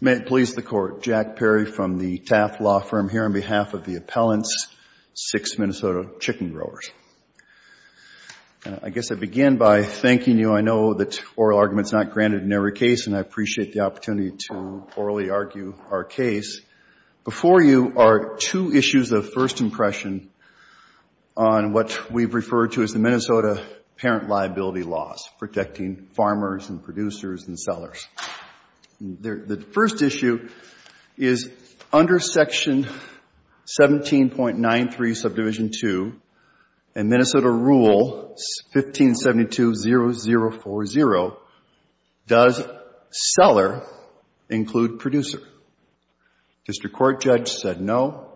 May it please the court, Jack Perry from the Taft Law Firm here on behalf of the appellants, six Minnesota chicken growers. I guess I begin by thanking you. I know that oral argument is not granted in every case and I appreciate the opportunity to orally argue our case. Before you are two issues of first impression on what we've referred to as the Minnesota parent liability laws protecting farmers and producers and sellers. The first issue is under section 17.93 subdivision 2 and Minnesota rule 1572-0040, does seller include producer? District court judge said no,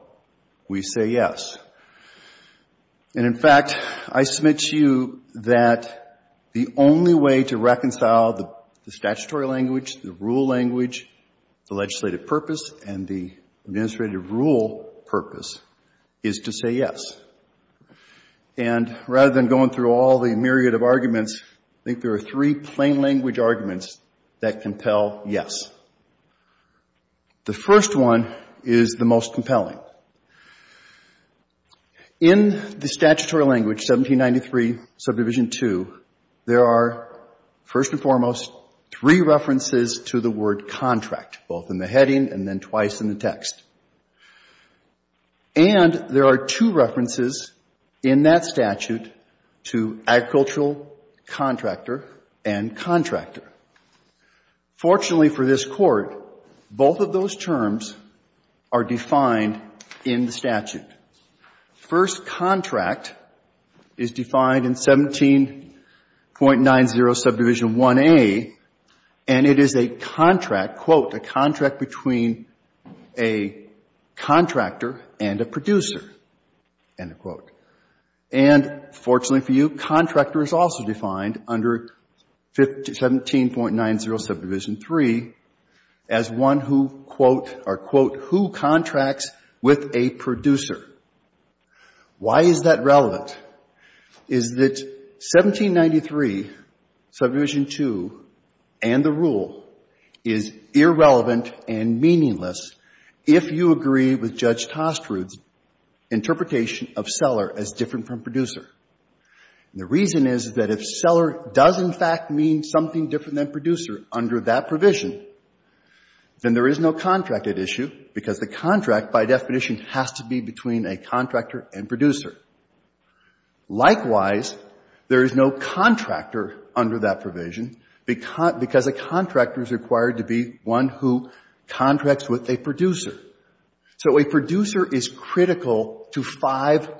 we say yes. And in fact, I submit to you that the only way to reconcile the statutory language, the rule language, the legislative purpose and the administrative rule purpose is to say yes. And rather than going through all the myriad of arguments, I think there are three plain language arguments that compel yes. The first one is the most compelling. In the statutory language 1793 subdivision 2, there are first and foremost three references to the word contract, both in the heading and then twice in the text. And there are two references in that statute to agricultural contractor and contractor. Fortunately for this court, both of those terms are defined in the statute. First contract is defined in 17.90 subdivision 1A and it is a contract, quote, a contract between a contractor and a producer, end of quote. And fortunately for you, contractor is also defined under 17.90 subdivision 3 as one who, quote, or quote who contracts with a producer. Why is that relevant? Is that 1793 subdivision 2 and the rule is irrelevant and meaningless if you agree with Judge Tostrud's interpretation of seller as different from producer. And the reason is that if seller does in fact mean something different than producer under that provision, then there is no contract at issue because the contract by definition has to be between a contractor and producer. Likewise, there is no contractor under that provision because a contractor is required to be one who contracts with a producer. So a producer is critical to five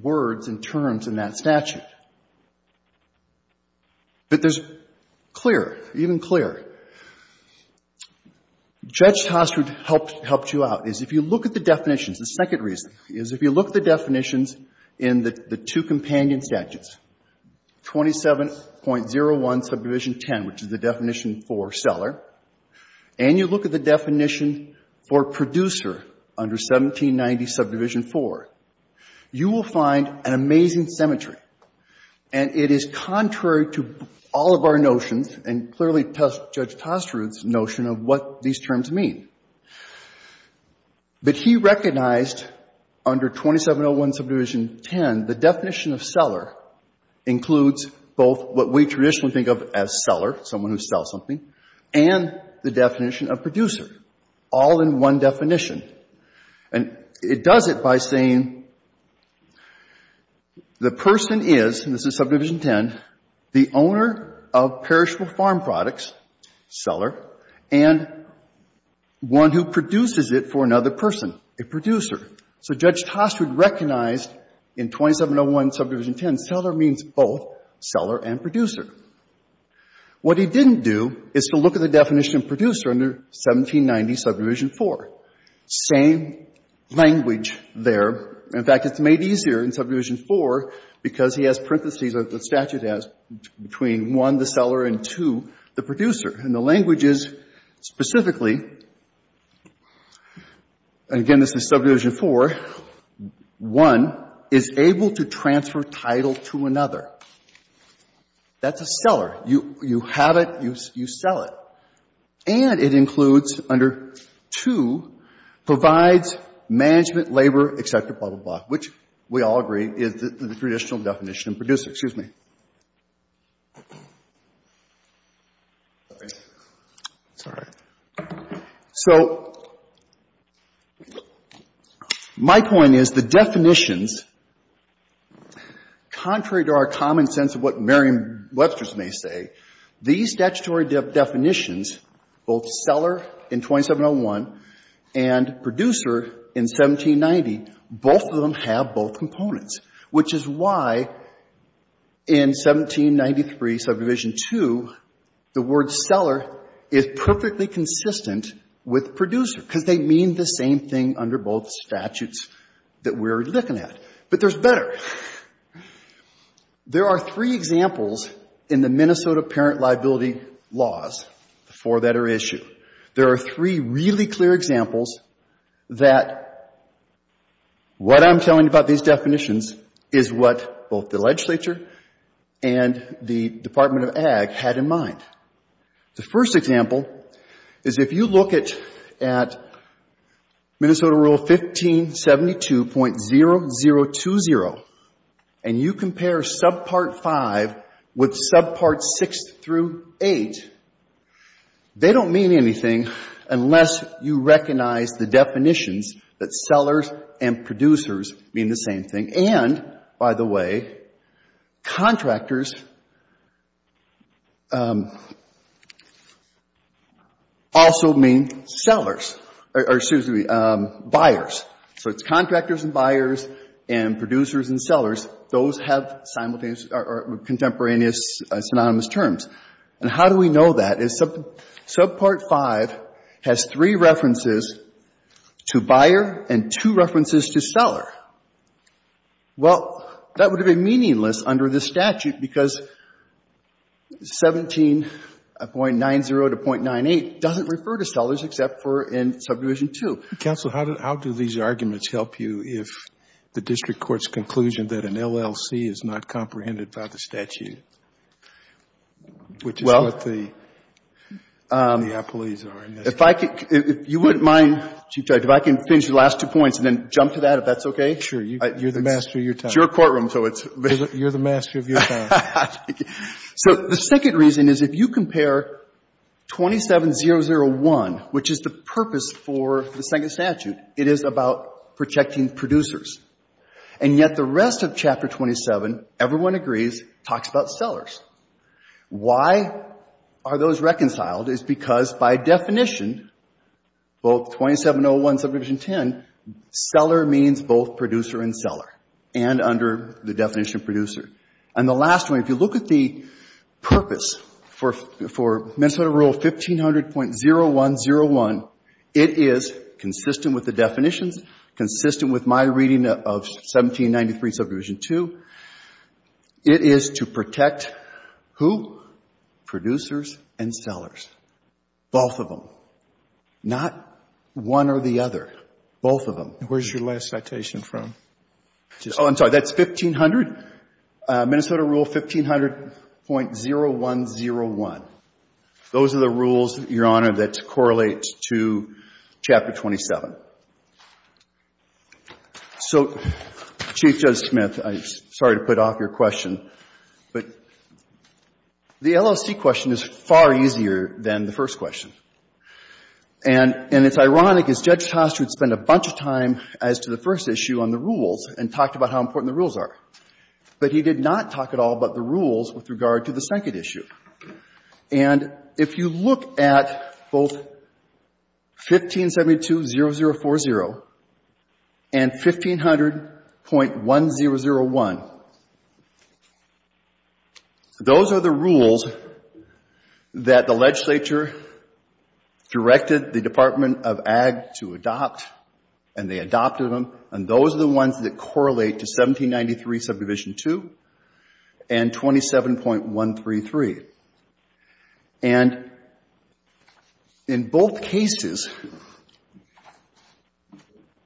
words and terms in that statute. But there's clear, even clear, Judge Tostrud helped you out is if you look at the definitions, the second reason is if you look at the definitions in the two companion statutes, 27.01 subdivision 10, which is the definition for seller, and you look at the definition for producer under 1790 subdivision 4, you will find an amazing symmetry. And it is contrary to all of our notions and clearly Judge Tostrud's notion of what these terms mean. But he recognized under 2701 subdivision 10, the definition of seller includes both what we traditionally think of as seller, someone who sells something, and the definition of producer, all in one definition. And it does it by saying the person is, and this is subdivision 10, the owner of perishable farm products, seller, and one who produces it for another person, a producer. So Judge Tostrud recognized in 2701 subdivision 10, seller means both seller and producer. What he didn't do is to look at the definition of producer under 1790 subdivision 4. Same language there. In fact, it's made easier in subdivision 4 because he has parentheses that the statute has between 1, the seller, and 2, the producer. And the language is specifically, and again, this is subdivision 4, 1 is able to transfer title to another. That's a seller. You have it, you sell it. And it includes under 2, provides management, labor, etc., blah, blah, blah, which we all agree is the traditional definition of producer. Excuse me. Sorry. So my point is the definitions, contrary to our common sense of what Merriam-Webster's may say, these statutory definitions, both seller in 2701 and producer in 1790, both of them have both components, which is why in 1793 subdivision 2, the word seller is perfectly consistent with producer because they mean the same thing under both statutes that we're looking at. But there's better. There are three examples in the Minnesota Parent Liability Laws, the four that are issued. There are three really clear examples that what I'm telling you about these definitions is what both the legislature and the Department of Ag had in mind. The first example is if you look at Minnesota Rule 1572.0020 and you 6 through 8, they don't mean anything unless you recognize the definitions that sellers and producers mean the same thing. And, by the way, contractors also mean sellers or, excuse me, buyers. So it's contractors and buyers and producers and sellers. Those have simultaneous or contemporaneous synonymous terms. And how do we know that? Subpart 5 has three references to buyer and two references to seller. Well, that would have been meaningless under this statute because 17.90 to .98 doesn't refer to sellers except for in subdivision 2. So, counsel, how do these arguments help you if the district court's conclusion that an LLC is not comprehended by the statute, which is what the apologies are in this case? Well, if I could — if you wouldn't mind, Chief Judge, if I can finish the last two points and then jump to that, if that's okay. Sure. You're the master of your time. It's your courtroom, so it's — You're the master of your time. So the second reason is if you compare 27.001, which is the purpose for the second statute, it is about protecting producers. And yet the rest of Chapter 27, everyone agrees, talks about sellers. Why are those reconciled is because by definition, both 2701 and subdivision 10, seller means both producer and seller and under the last point, if you look at the purpose for Minnesota Rule 1500.0101, it is consistent with the definitions, consistent with my reading of 1793 subdivision 2. It is to protect who? Producers and sellers. Both of them. Not one or the other. Both of them. And where's your last citation from? Oh, I'm sorry. That's 1500? Minnesota Rule 1500.0101. Those are the rules, Your Honor, that correlate to Chapter 27. So, Chief Judge Smith, I'm sorry to put off your question, but the LLC question is far easier than the first question. And it's ironic, as Judge Tost would spend a bunch of time as to the first issue on the rules and talked about how important the rules are. But he did not talk at all about the rules with regard to the second issue. And if you look at both 1572.0040 and 1500.1001, those are the rules that the legislature directed the Department of Ag to adopt, and they adopted them. And those are the ones that correlate to 1793 subdivision 2 and 27.133. And in both cases,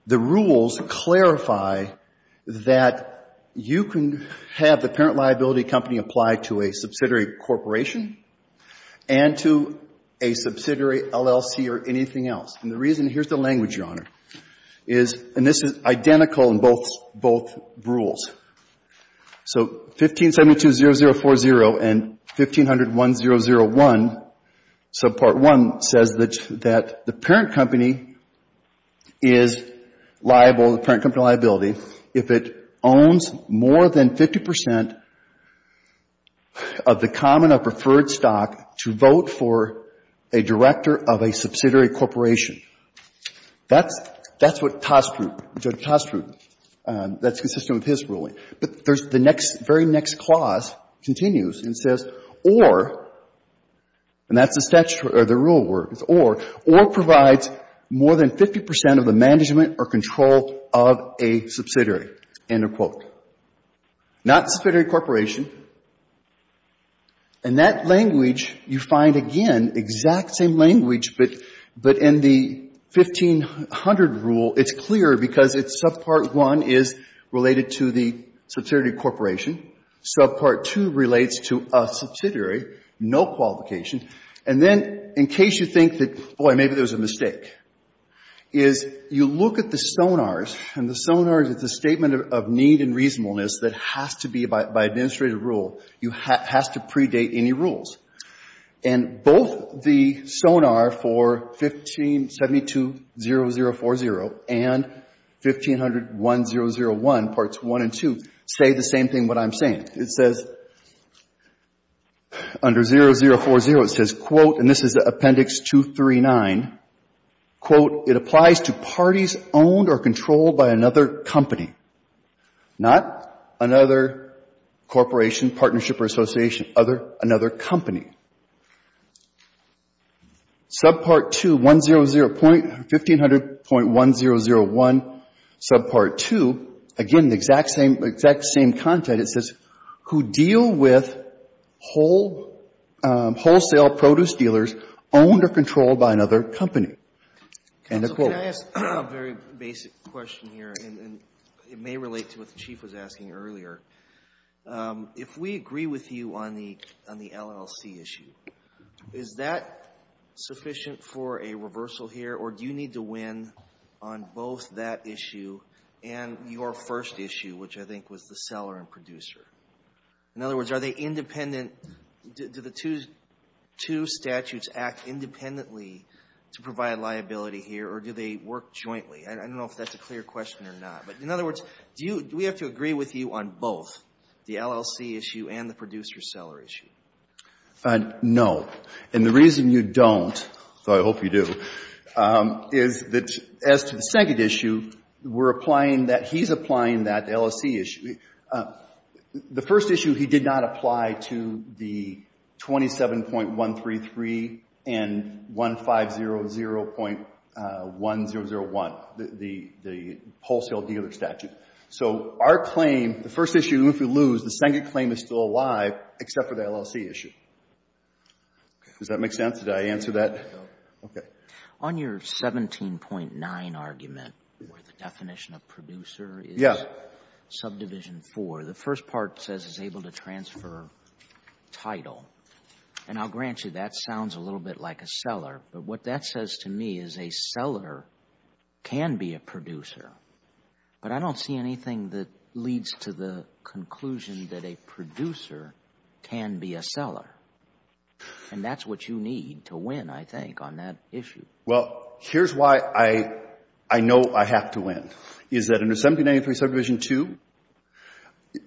the rules clarify that you can have the parent liability company apply to a subsidiary corporation and to a subsidiary LLC or anything else. And the reason, here's the language, Your Honor, is, and this is identical in both rules. So, 1572.0040 and 1500.1001, so part one says that the parent company is liable, the parent company liability, if it owns more than 50 percent of the common or preferred stock to vote for a director of a subsidiary corporation. That's, that's what Tost's rule, Judge Tost's rule, that's consistent with his ruling. But there's the next, very next clause continues and says, or, and that's the statute or the rule where it's or, or provides more than 50 percent of the management or control of a subsidiary, end of quote. Not a subsidiary corporation. And that language, you find, again, exact same language, but, but in the 1500 rule, it's clear because it's subpart one is related to the subsidiary corporation. Subpart two relates to a subsidiary, no qualification. And then, in case you think that, boy, maybe there's a mistake, is you look at the sonars, and the sonars, it's a statement of need and reasonableness that has to be, by, by administrative rule, you, has to predate any rules. And both the sonar for 1572.0040 and 1500.1001, parts one and two, say the same thing what I'm saying. It says, under 0040, it says, quote, and this is Appendix 239, quote, it applies to parties owned or controlled by another company. Not another corporation, partnership or association, other, another company. Subpart two, 1500.1001, subpart two, again, the exact same, exact same content. It says, who deal with wholesale produce dealers owned or controlled by another company? And a quote. Counsel, can I ask a very basic question here, and it may relate to what the Chief was asking earlier. If we agree with you on the, on the LLC issue, is that sufficient for a reversal here, or do you need to win on both that issue and your first issue, which I think was the question. Do the two statutes act independently to provide liability here, or do they work jointly? I don't know if that's a clear question or not. But in other words, do you, do we have to agree with you on both, the LLC issue and the producer-seller issue? No. And the reason you don't, so I hope you do, is that as to the second issue, we're applying that, he's applying that, the LLC issue. The first issue, he did not apply to the 27.133 and 1500.1001, the, the, the wholesale dealer statute. So, our claim, the first issue, if we lose, the second claim is still alive, except for the LLC issue. Does that make sense? Did I answer that? No. Okay. On your 17.9 argument, where the producer title, and I'll grant you that sounds a little bit like a seller, but what that says to me is a seller can be a producer. But I don't see anything that leads to the conclusion that a producer can be a seller. And that's what you need to win, I think, on that issue. Well, here's why I, I know I have to win, is that under 1793 Subdivision 2,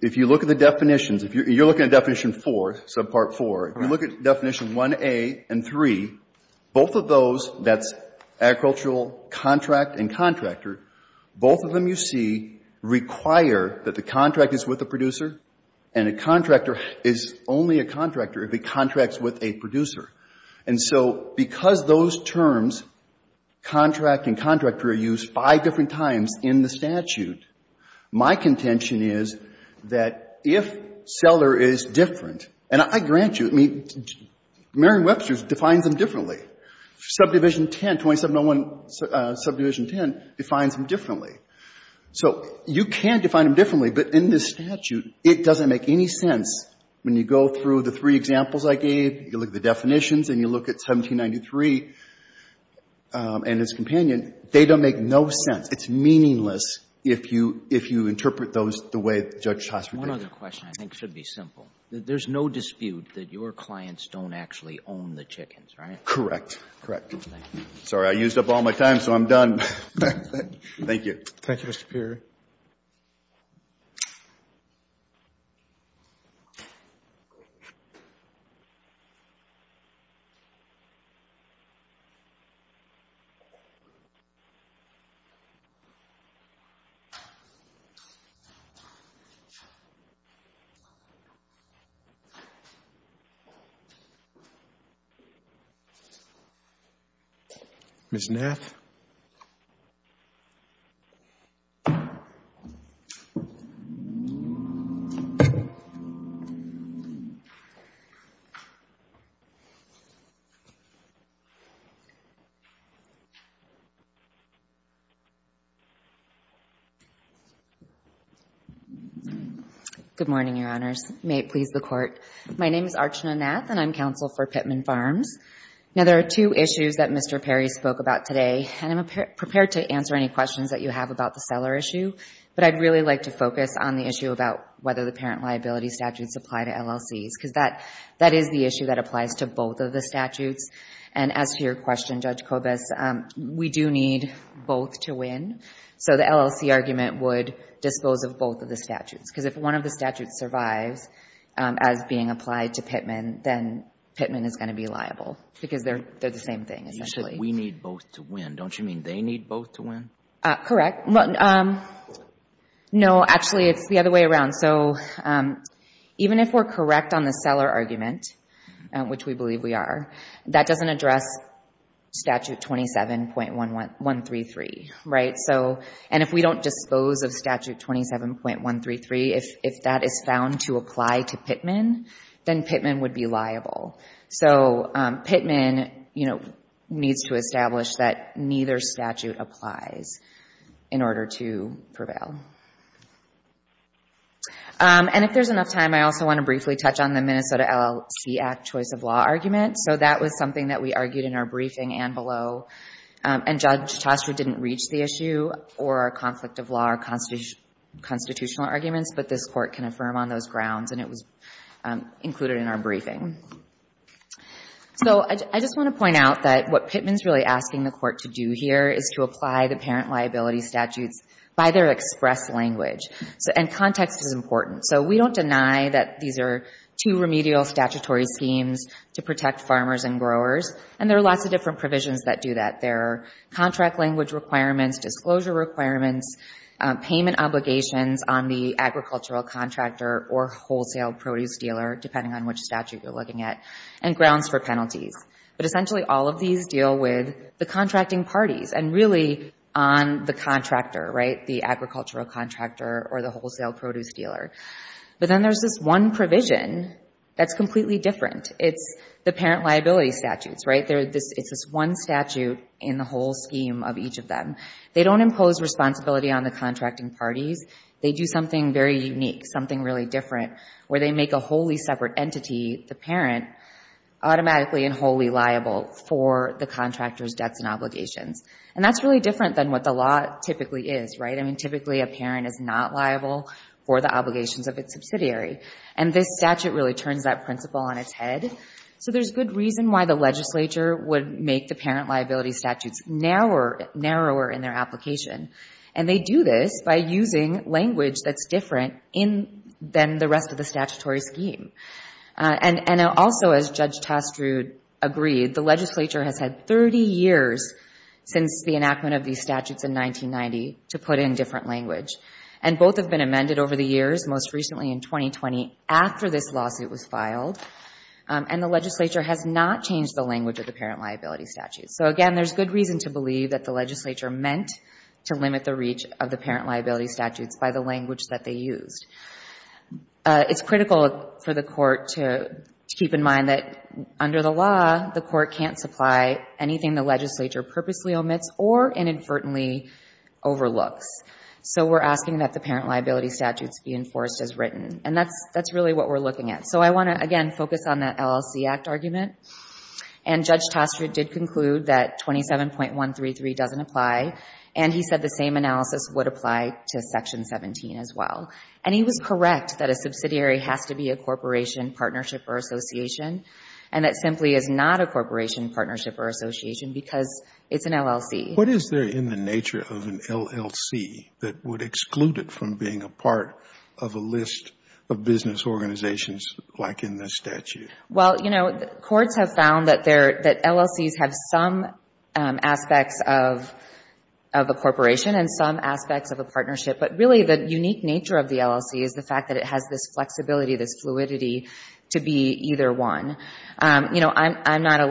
if you look at the definitions, if you're looking at Definition 4, Subpart 4, if you look at Definition 1A and 3, both of those, that's agricultural contract and contractor, both of them you see require that the contract is with the producer, and a contractor is only a contractor if he contracts with a producer. And so, because those terms, contract and contractor, my contention is that if seller is different, and I grant you, I mean, Merriam-Webster defines them differently. Subdivision 10, 2701 Subdivision 10 defines them differently. So you can define them differently, but in this statute, it doesn't make any sense. When you go through the three examples I gave, you look at the definitions and you look at 1793 and its companion, they don't make no sense. It's meaningless if you, if you interpret those the way that Judge Hosford did. One other question I think should be simple. There's no dispute that your clients don't actually own the chickens, right? Correct. Correct. Thank you. Sorry, I used up all my time, so I'm done. Thank you. Thank you, Mr. Peery. Ms. Knapp. Thank you. Good morning, Your Honors. May it please the Court. My name is Archana Knapp, and I'm counsel for Pittman Farms. Now, there are two issues that Mr. Peery spoke about today, and I'm prepared to answer any questions that you have about the seller issue, but I'd really like to focus on the issue about whether the parent liability statutes apply to LLCs, because that is the issue that applies to both of the statutes. And as to your question, Judge Kobes, we do need both to win, so the LLC argument would dispose of both of the statutes, because if one of the statutes survives as being applied to Pittman, then Pittman is going to be liable, because they're the same thing. You said we need both to win. Don't you mean they need both to win? Correct. No, actually, it's the other way around. So, even if we're correct on the seller argument, which we believe we are, that doesn't address Statute 27.133, right? So, and if we don't dispose of Statute 27.133, if that is found to apply to Pittman, then Pittman would be liable. So, Pittman, you know, needs to establish that neither statute applies in order to prevail. And if there's enough time, I also want to briefly touch on the Minnesota LLC Act choice of law argument. So, that was something that we argued in our briefing and below, and Judge Chastra didn't reach the issue or our conflict of law or constitutional arguments, but this Court can affirm on those grounds, and it was included in our briefing. So, I just want to point out that what Pittman's really asking the Court to do here is to apply the parent liability statutes by their express language. And context is important. So, we don't deny that these are two remedial statutory schemes to protect farmers and growers, and there are lots of different provisions that do that. There are contract language requirements, disclosure requirements, payment obligations on the agricultural contractor or wholesale produce dealer, depending on which statute you're looking at, and grounds for penalties. But essentially, all of these deal with the contracting parties and really on the contractor, right, the agricultural contractor or the wholesale produce dealer. But then there's this one provision that's completely different. It's the parent liability statutes, right? It's this one statute in the whole scheme of each of them. They don't impose responsibility on the contracting parties. They do something very unique, something really different, where they make a wholly separate entity, the parent, automatically and wholly liable for the contractor's debts and obligations. And that's really different than what the law typically is, right? I mean, typically, a parent is not liable for the obligations of its subsidiary. And this statute really turns that principle on its head. So there's good reason why the legislature would make the parent liability statutes narrower in their application. And they do this by using language that's different than the rest of the statutory scheme. And also, as Judge Tastrude agreed, the legislature has had 30 years since the enactment of these statutes in 1990 to put in different language. And the legislature has not changed the language of the parent liability statutes. So again, there's good reason to believe that the legislature meant to limit the reach of the parent liability statutes by the language that they used. It's critical for the court to keep in mind that under the law, the court can't supply anything the legislature purposely omits or inadvertently overlooks. So we're asking that the parent liability statutes be enforced as written. And that's really what we're looking at. So I want to, again, focus on that LLC Act argument. And Judge Tastrude did conclude that 27.133 doesn't apply. And he said the same analysis would apply to Section 17 as well. And he was correct that a subsidiary has to be a corporation, partnership, or association, and that simply is not a corporation, partnership, or association because it's an LLC. What is there in the nature of an LLC that would exclude it from being a part of a list of business organizations like in this statute? Well, you know, courts have found that LLCs have some aspects of a corporation and some aspects of a partnership. But really the unique nature of the LLC is the fact that it has this flexibility, this fluidity to be either one. You know, I'm not a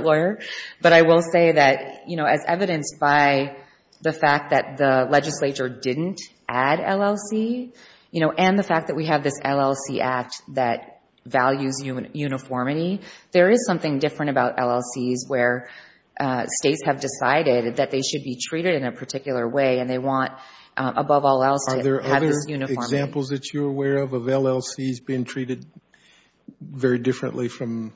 lawyer, but I will say that, you know, as evidenced by the fact that the legislature didn't add LLC, you know, and the fact that we have this LLC Act that values uniformity, there is something different about LLCs where states have decided that they should be treated in a particular way and they want, above all else, to have this uniformity. Are there other examples that you're aware of of LLCs being treated very differently from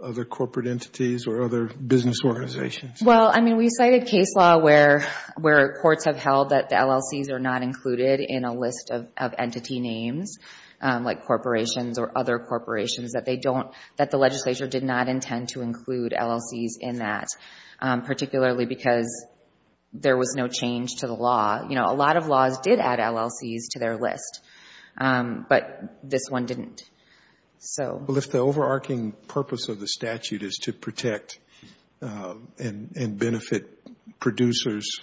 other corporate entities or other business organizations? Well, I mean, we cited case law where courts have held that the LLCs are not included in a list of entity names, like corporations or other corporations, that they don't, that the legislature did not intend to include LLCs in that, particularly because there was no change to the law. You know, a lot of laws did add LLCs to their list, but this one didn't. Well, if the overarching purpose of the statute is to protect and benefit producers,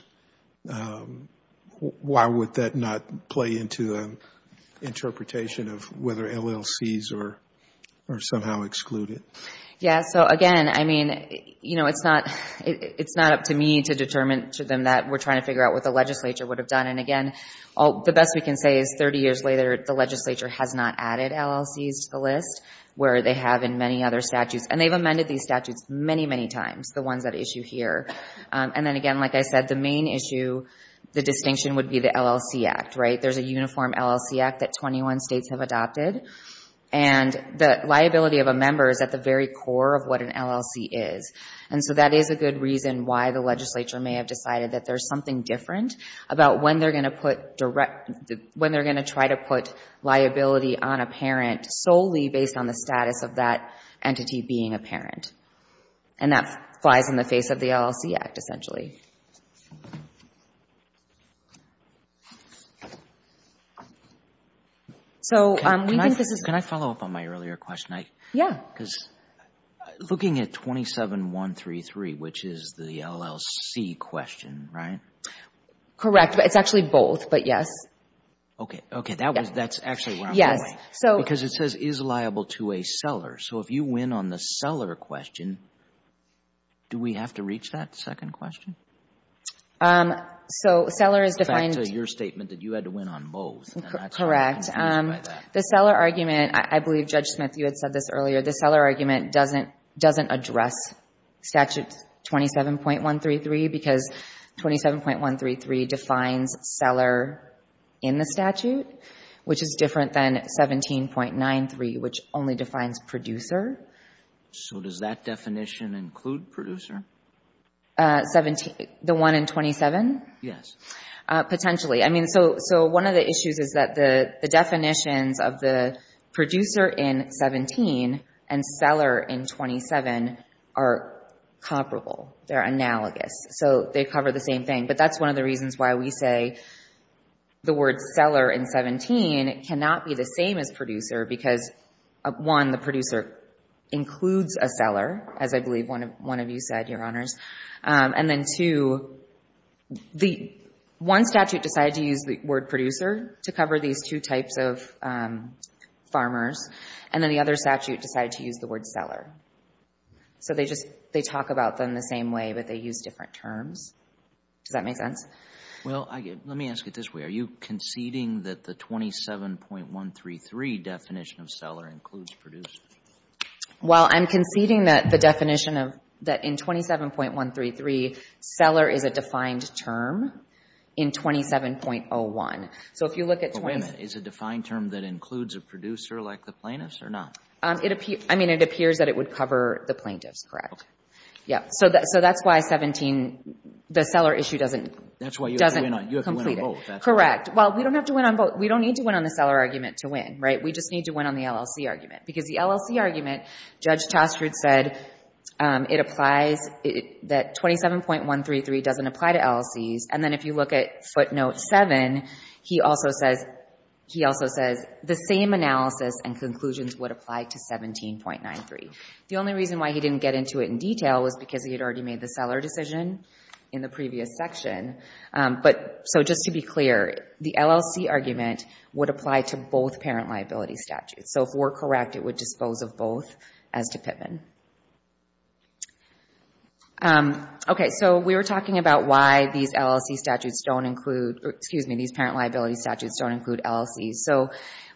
why would that not play into the interpretation of whether LLCs are somehow excluded? Yeah, so again, I mean, you know, it's not up to me to determine to them that we're trying to figure out what the legislature would have done. And again, the best we can say is 30 years later, the legislature has not added LLCs to the list where they have in many other statutes, and they've amended these statutes many, many times, the ones at issue here. And then again, like I said, the main issue, the distinction would be the LLC Act, right? There's a uniform LLC Act that 21 states have adopted, and the liability of a member is at the very core of what an LLC is. And so that is a good reason why the legislature may have decided that there's something different about when they're going to put direct, when they're going to try to put liability on a parent solely based on the status of that entity being a parent. And that flies in the face of the LLC Act, essentially. Can I follow up on my earlier question? Yeah. Because looking at 27.133, which is the LLC question, right? Correct. It's actually both, but yes. Okay. That's actually where I'm going. Because it says is liable to a seller. So if you win on the seller question, do we have to reach that second question? So seller is defined... In fact, your statement that you had to win on both. Correct. The seller argument, I believe Judge Smith, you had said this earlier, the seller argument doesn't address Statute 27.133 because 27.133 defines seller in the statute, which is different than 17.93, which only defines producer. So does that definition include producer? The one in 27? Yes. Potentially. So one of the issues is that the definitions of the producer in 17 and seller in 27 are comparable. They're analogous. So they cover the same thing. But that's one of the reasons why we say the word seller in 17 cannot be the same as producer because, one, the producer includes a seller, as I believe one of you said, Your Honors. And then two, one statute decided to use the word producer to cover these two types of farmers. And then the other statute decided to use the word seller. So they talk about them the same way, but they use different terms. Does that make sense? Well, let me ask it this way. Are you conceding that the 27.133 definition of seller includes producer? Well, I'm conceding that the definition of, that in 27.133, seller is a defined term in 27.01. So if you look at Wait a minute. Is a defined term that includes a producer like the plaintiffs or not? I mean, it appears that it would cover the plaintiffs, correct. So that's why 17, the seller issue doesn't complete it. Correct. Well, we don't have to win on both. We don't need to win on the seller argument to win, right? We just need to win on the LLC argument. Because the LLC argument, Judge Taskford said, it applies that 27.133 doesn't apply to LLCs. And then if you look at footnote 7, he also says, the same analysis and conclusions would apply to 17.93. The only reason why he didn't get into it in detail was because he had already made the seller decision in the previous section. So just to be clear, the LLC argument would apply to both parent liability statutes. So if we're correct, it would dispose of both as to Pittman. Okay. So we were talking about why these LLC statutes don't include, excuse me, these parent liability statutes don't include LLCs. So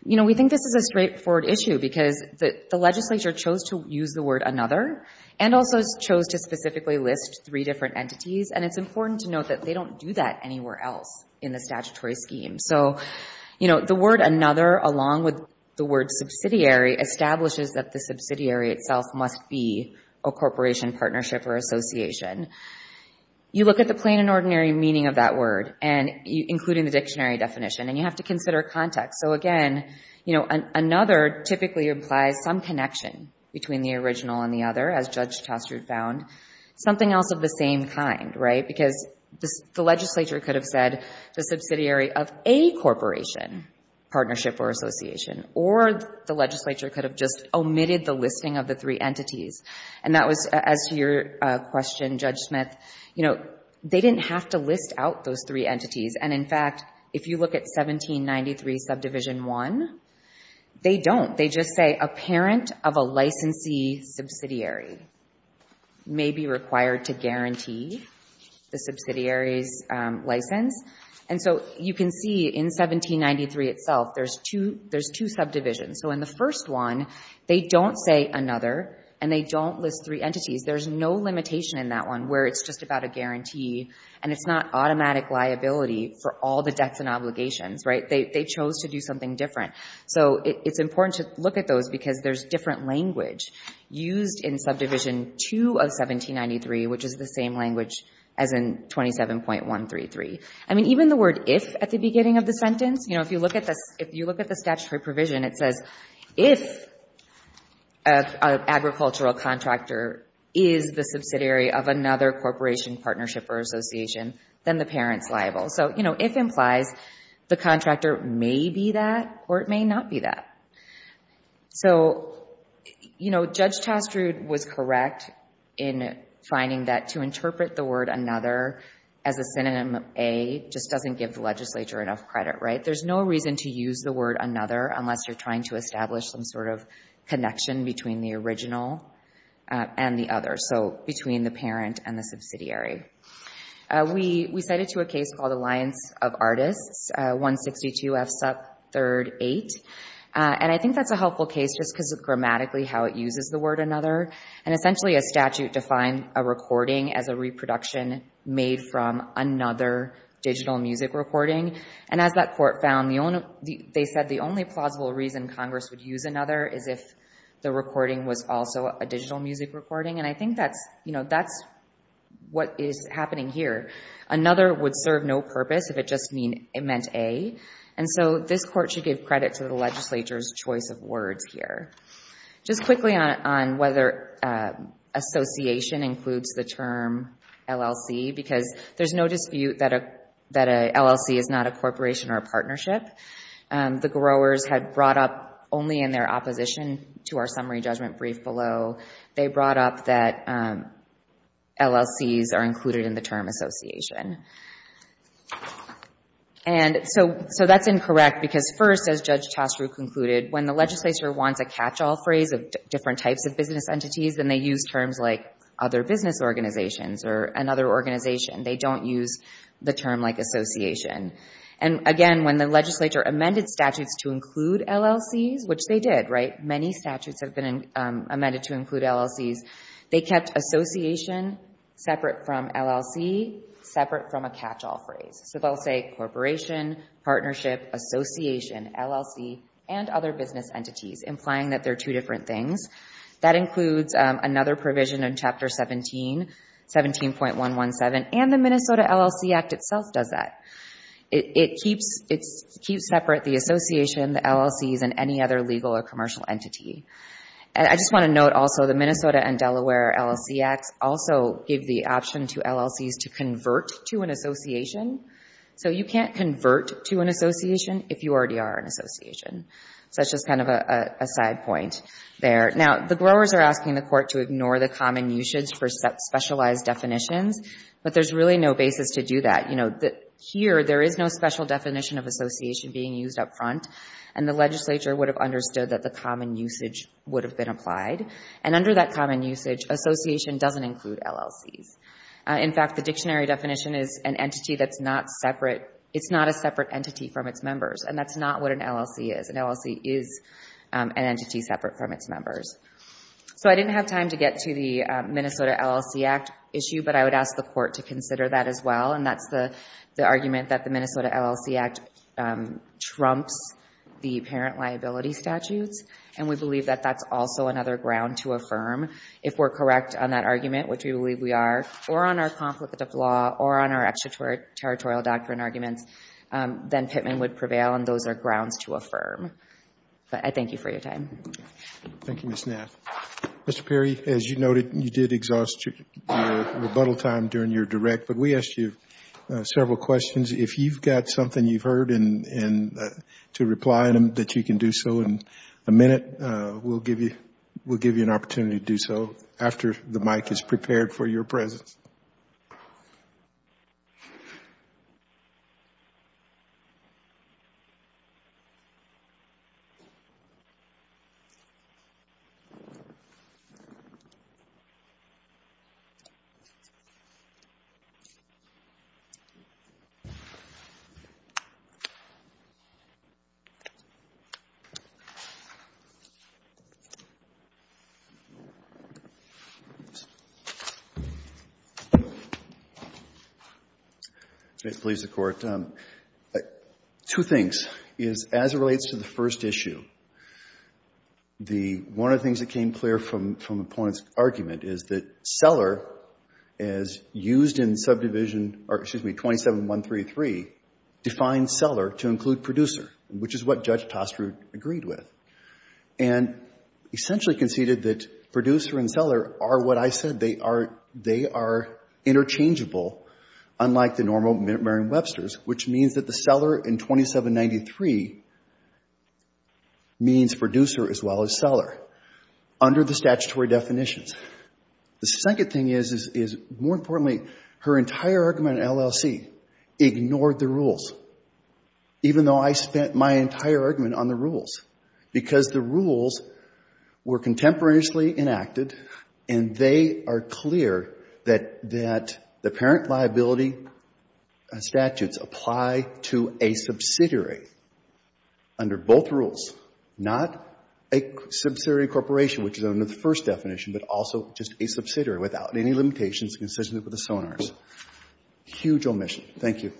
we think this is a straightforward issue because the legislature chose to use the word another and also chose to specifically list three different entities. And it's important to note that they don't do that anywhere else in the statutory scheme. So the word another, along with the word subsidiary, establishes that the subsidiary itself must be a corporation, partnership, or association. You look at the plain and ordinary meaning of that word, including the dictionary definition, and you have to consider context. So again, another typically implies some connection between the original and the other, as Judge Taskford found. Something else of the same kind, right? Because the legislature could have said the subsidiary of a corporation, partnership or association, or the legislature could have just omitted the listing of the three entities. And that was, as to your question, Judge Smith, they didn't have to list out those three entities. And in fact, if you look at 1793 Subdivision 1, they don't. They just say a parent of a licensee subsidiary's license. And so you can see in 1793 itself, there's two subdivisions. So in the first one, they don't say another and they don't list three entities. There's no limitation in that one where it's just about a guarantee and it's not automatic liability for all the debts and obligations, right? They chose to do something different. So it's important to look at those because there's different language used in Subdivision 2 of 1793, which is the same language as in 27.133. I mean, even the word if, at the beginning of the sentence, if you look at the statutory provision, it says if an agricultural contractor is the subsidiary of another corporation, partnership or association, then the parent's liable. So if implies the contractor may be that or it may not be that. So Judge Tastroud was correct in finding that to interpret the word another as a synonym of a just doesn't give the legislature enough credit, right? There's no reason to use the word another unless you're trying to establish some sort of connection between the original and the other, so between the parent and the subsidiary. We cited to a case called Alliance of Artists, 162 F. Sub. 3rd. 8. And I think that's a helpful case just because of grammatically how it uses the word another. And essentially a statute defined a recording as a reproduction made from another digital music recording. And as that court found, they said the only plausible reason Congress would use another is if the recording was also a digital music recording. And I think that's what is happening here. Another would serve no purpose if it just meant A. And so this court should give credit to the legislature's choice of words here. Just quickly on whether association includes the term LLC because there's no dispute that an LLC is not a corporation or a partnership. The growers had brought up only in their opposition to our summary judgment brief below, they brought up that LLCs are included in the term association. And so that's incorrect because first, as Judge Chastro concluded, when the legislature wants a catch-all phrase of different types of business entities, then they use terms like other business organizations or another organization. They don't use the term like association. And again, when the legislature amended statutes to include LLCs, which they did, right? Many statutes have been amended to include LLCs. They kept association separate from LLC separate from a catch-all phrase. So they'll say corporation, partnership, association, LLC, and other business entities, implying that they're two different things. That includes another provision in Chapter 17, 17.117, and the Minnesota LLC Act itself does that. It keeps separate the association, the LLCs, and any other legal or commercial entity. And I just want to note also the Minnesota and Delaware LLC Acts also give the option to LLCs to convert to an association. So you can't convert to an association if you already are an association. So that's just kind of a side point there. Now, the growers are asking the court to ignore the common usage for specialized definitions, but there's really no basis to do that. Here, there is no special definition of association being used up front, and the legislature would have understood that the common usage would have been applied. And under that common usage, association doesn't include LLCs. In fact, the dictionary definition is an entity that's not separate. It's not a separate entity separate from its members. So I didn't have time to get to the Minnesota LLC Act issue, but I would ask the court to consider that as well, and that's the argument that the Minnesota LLC Act trumps the parent liability statutes, and we believe that that's also another ground to affirm. If we're correct on that argument, which we believe we are, or on our conflict of law, or on our extraterritorial doctrine arguments, then Pittman would prevail, and those are grounds to affirm. But I thank you for your time. Thank you, Ms. Nath. Mr. Perry, as you noted, you did exhaust your rebuttal time during your direct, but we asked you several questions. If you've got something you've heard to reply to that you can do so in a minute, we'll give you an opportunity to do so after the mic is prepared for your presence. Mr. Perry. Please, Mr. Court. Two things. As it relates to the first issue, one of the things that came clear from the opponent's argument is that Seller, as used in Subdivision, or excuse me, 27133, defined Seller to include Producer, which is what Judge Toster agreed with, and essentially conceded that Producer and Seller are what I said they are interchangeable, unlike the normal Merrim-Webster's, which means that the Seller in 2793 means Producer as well as Seller under the statutory definitions. The second thing is, more importantly, her entire argument in LLC ignored the rules, even though I spent my entire argument on the rules, because the rules were contemporaneously enacted, and they are clear that the parent liability statutes apply to a subsidiary under both rules, not a subsidiary corporation, which is under the first definition, but also just a subsidiary without any limitations consistent with the sonars. Huge omission. Thank you.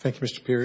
Thank you, Mr. Perry.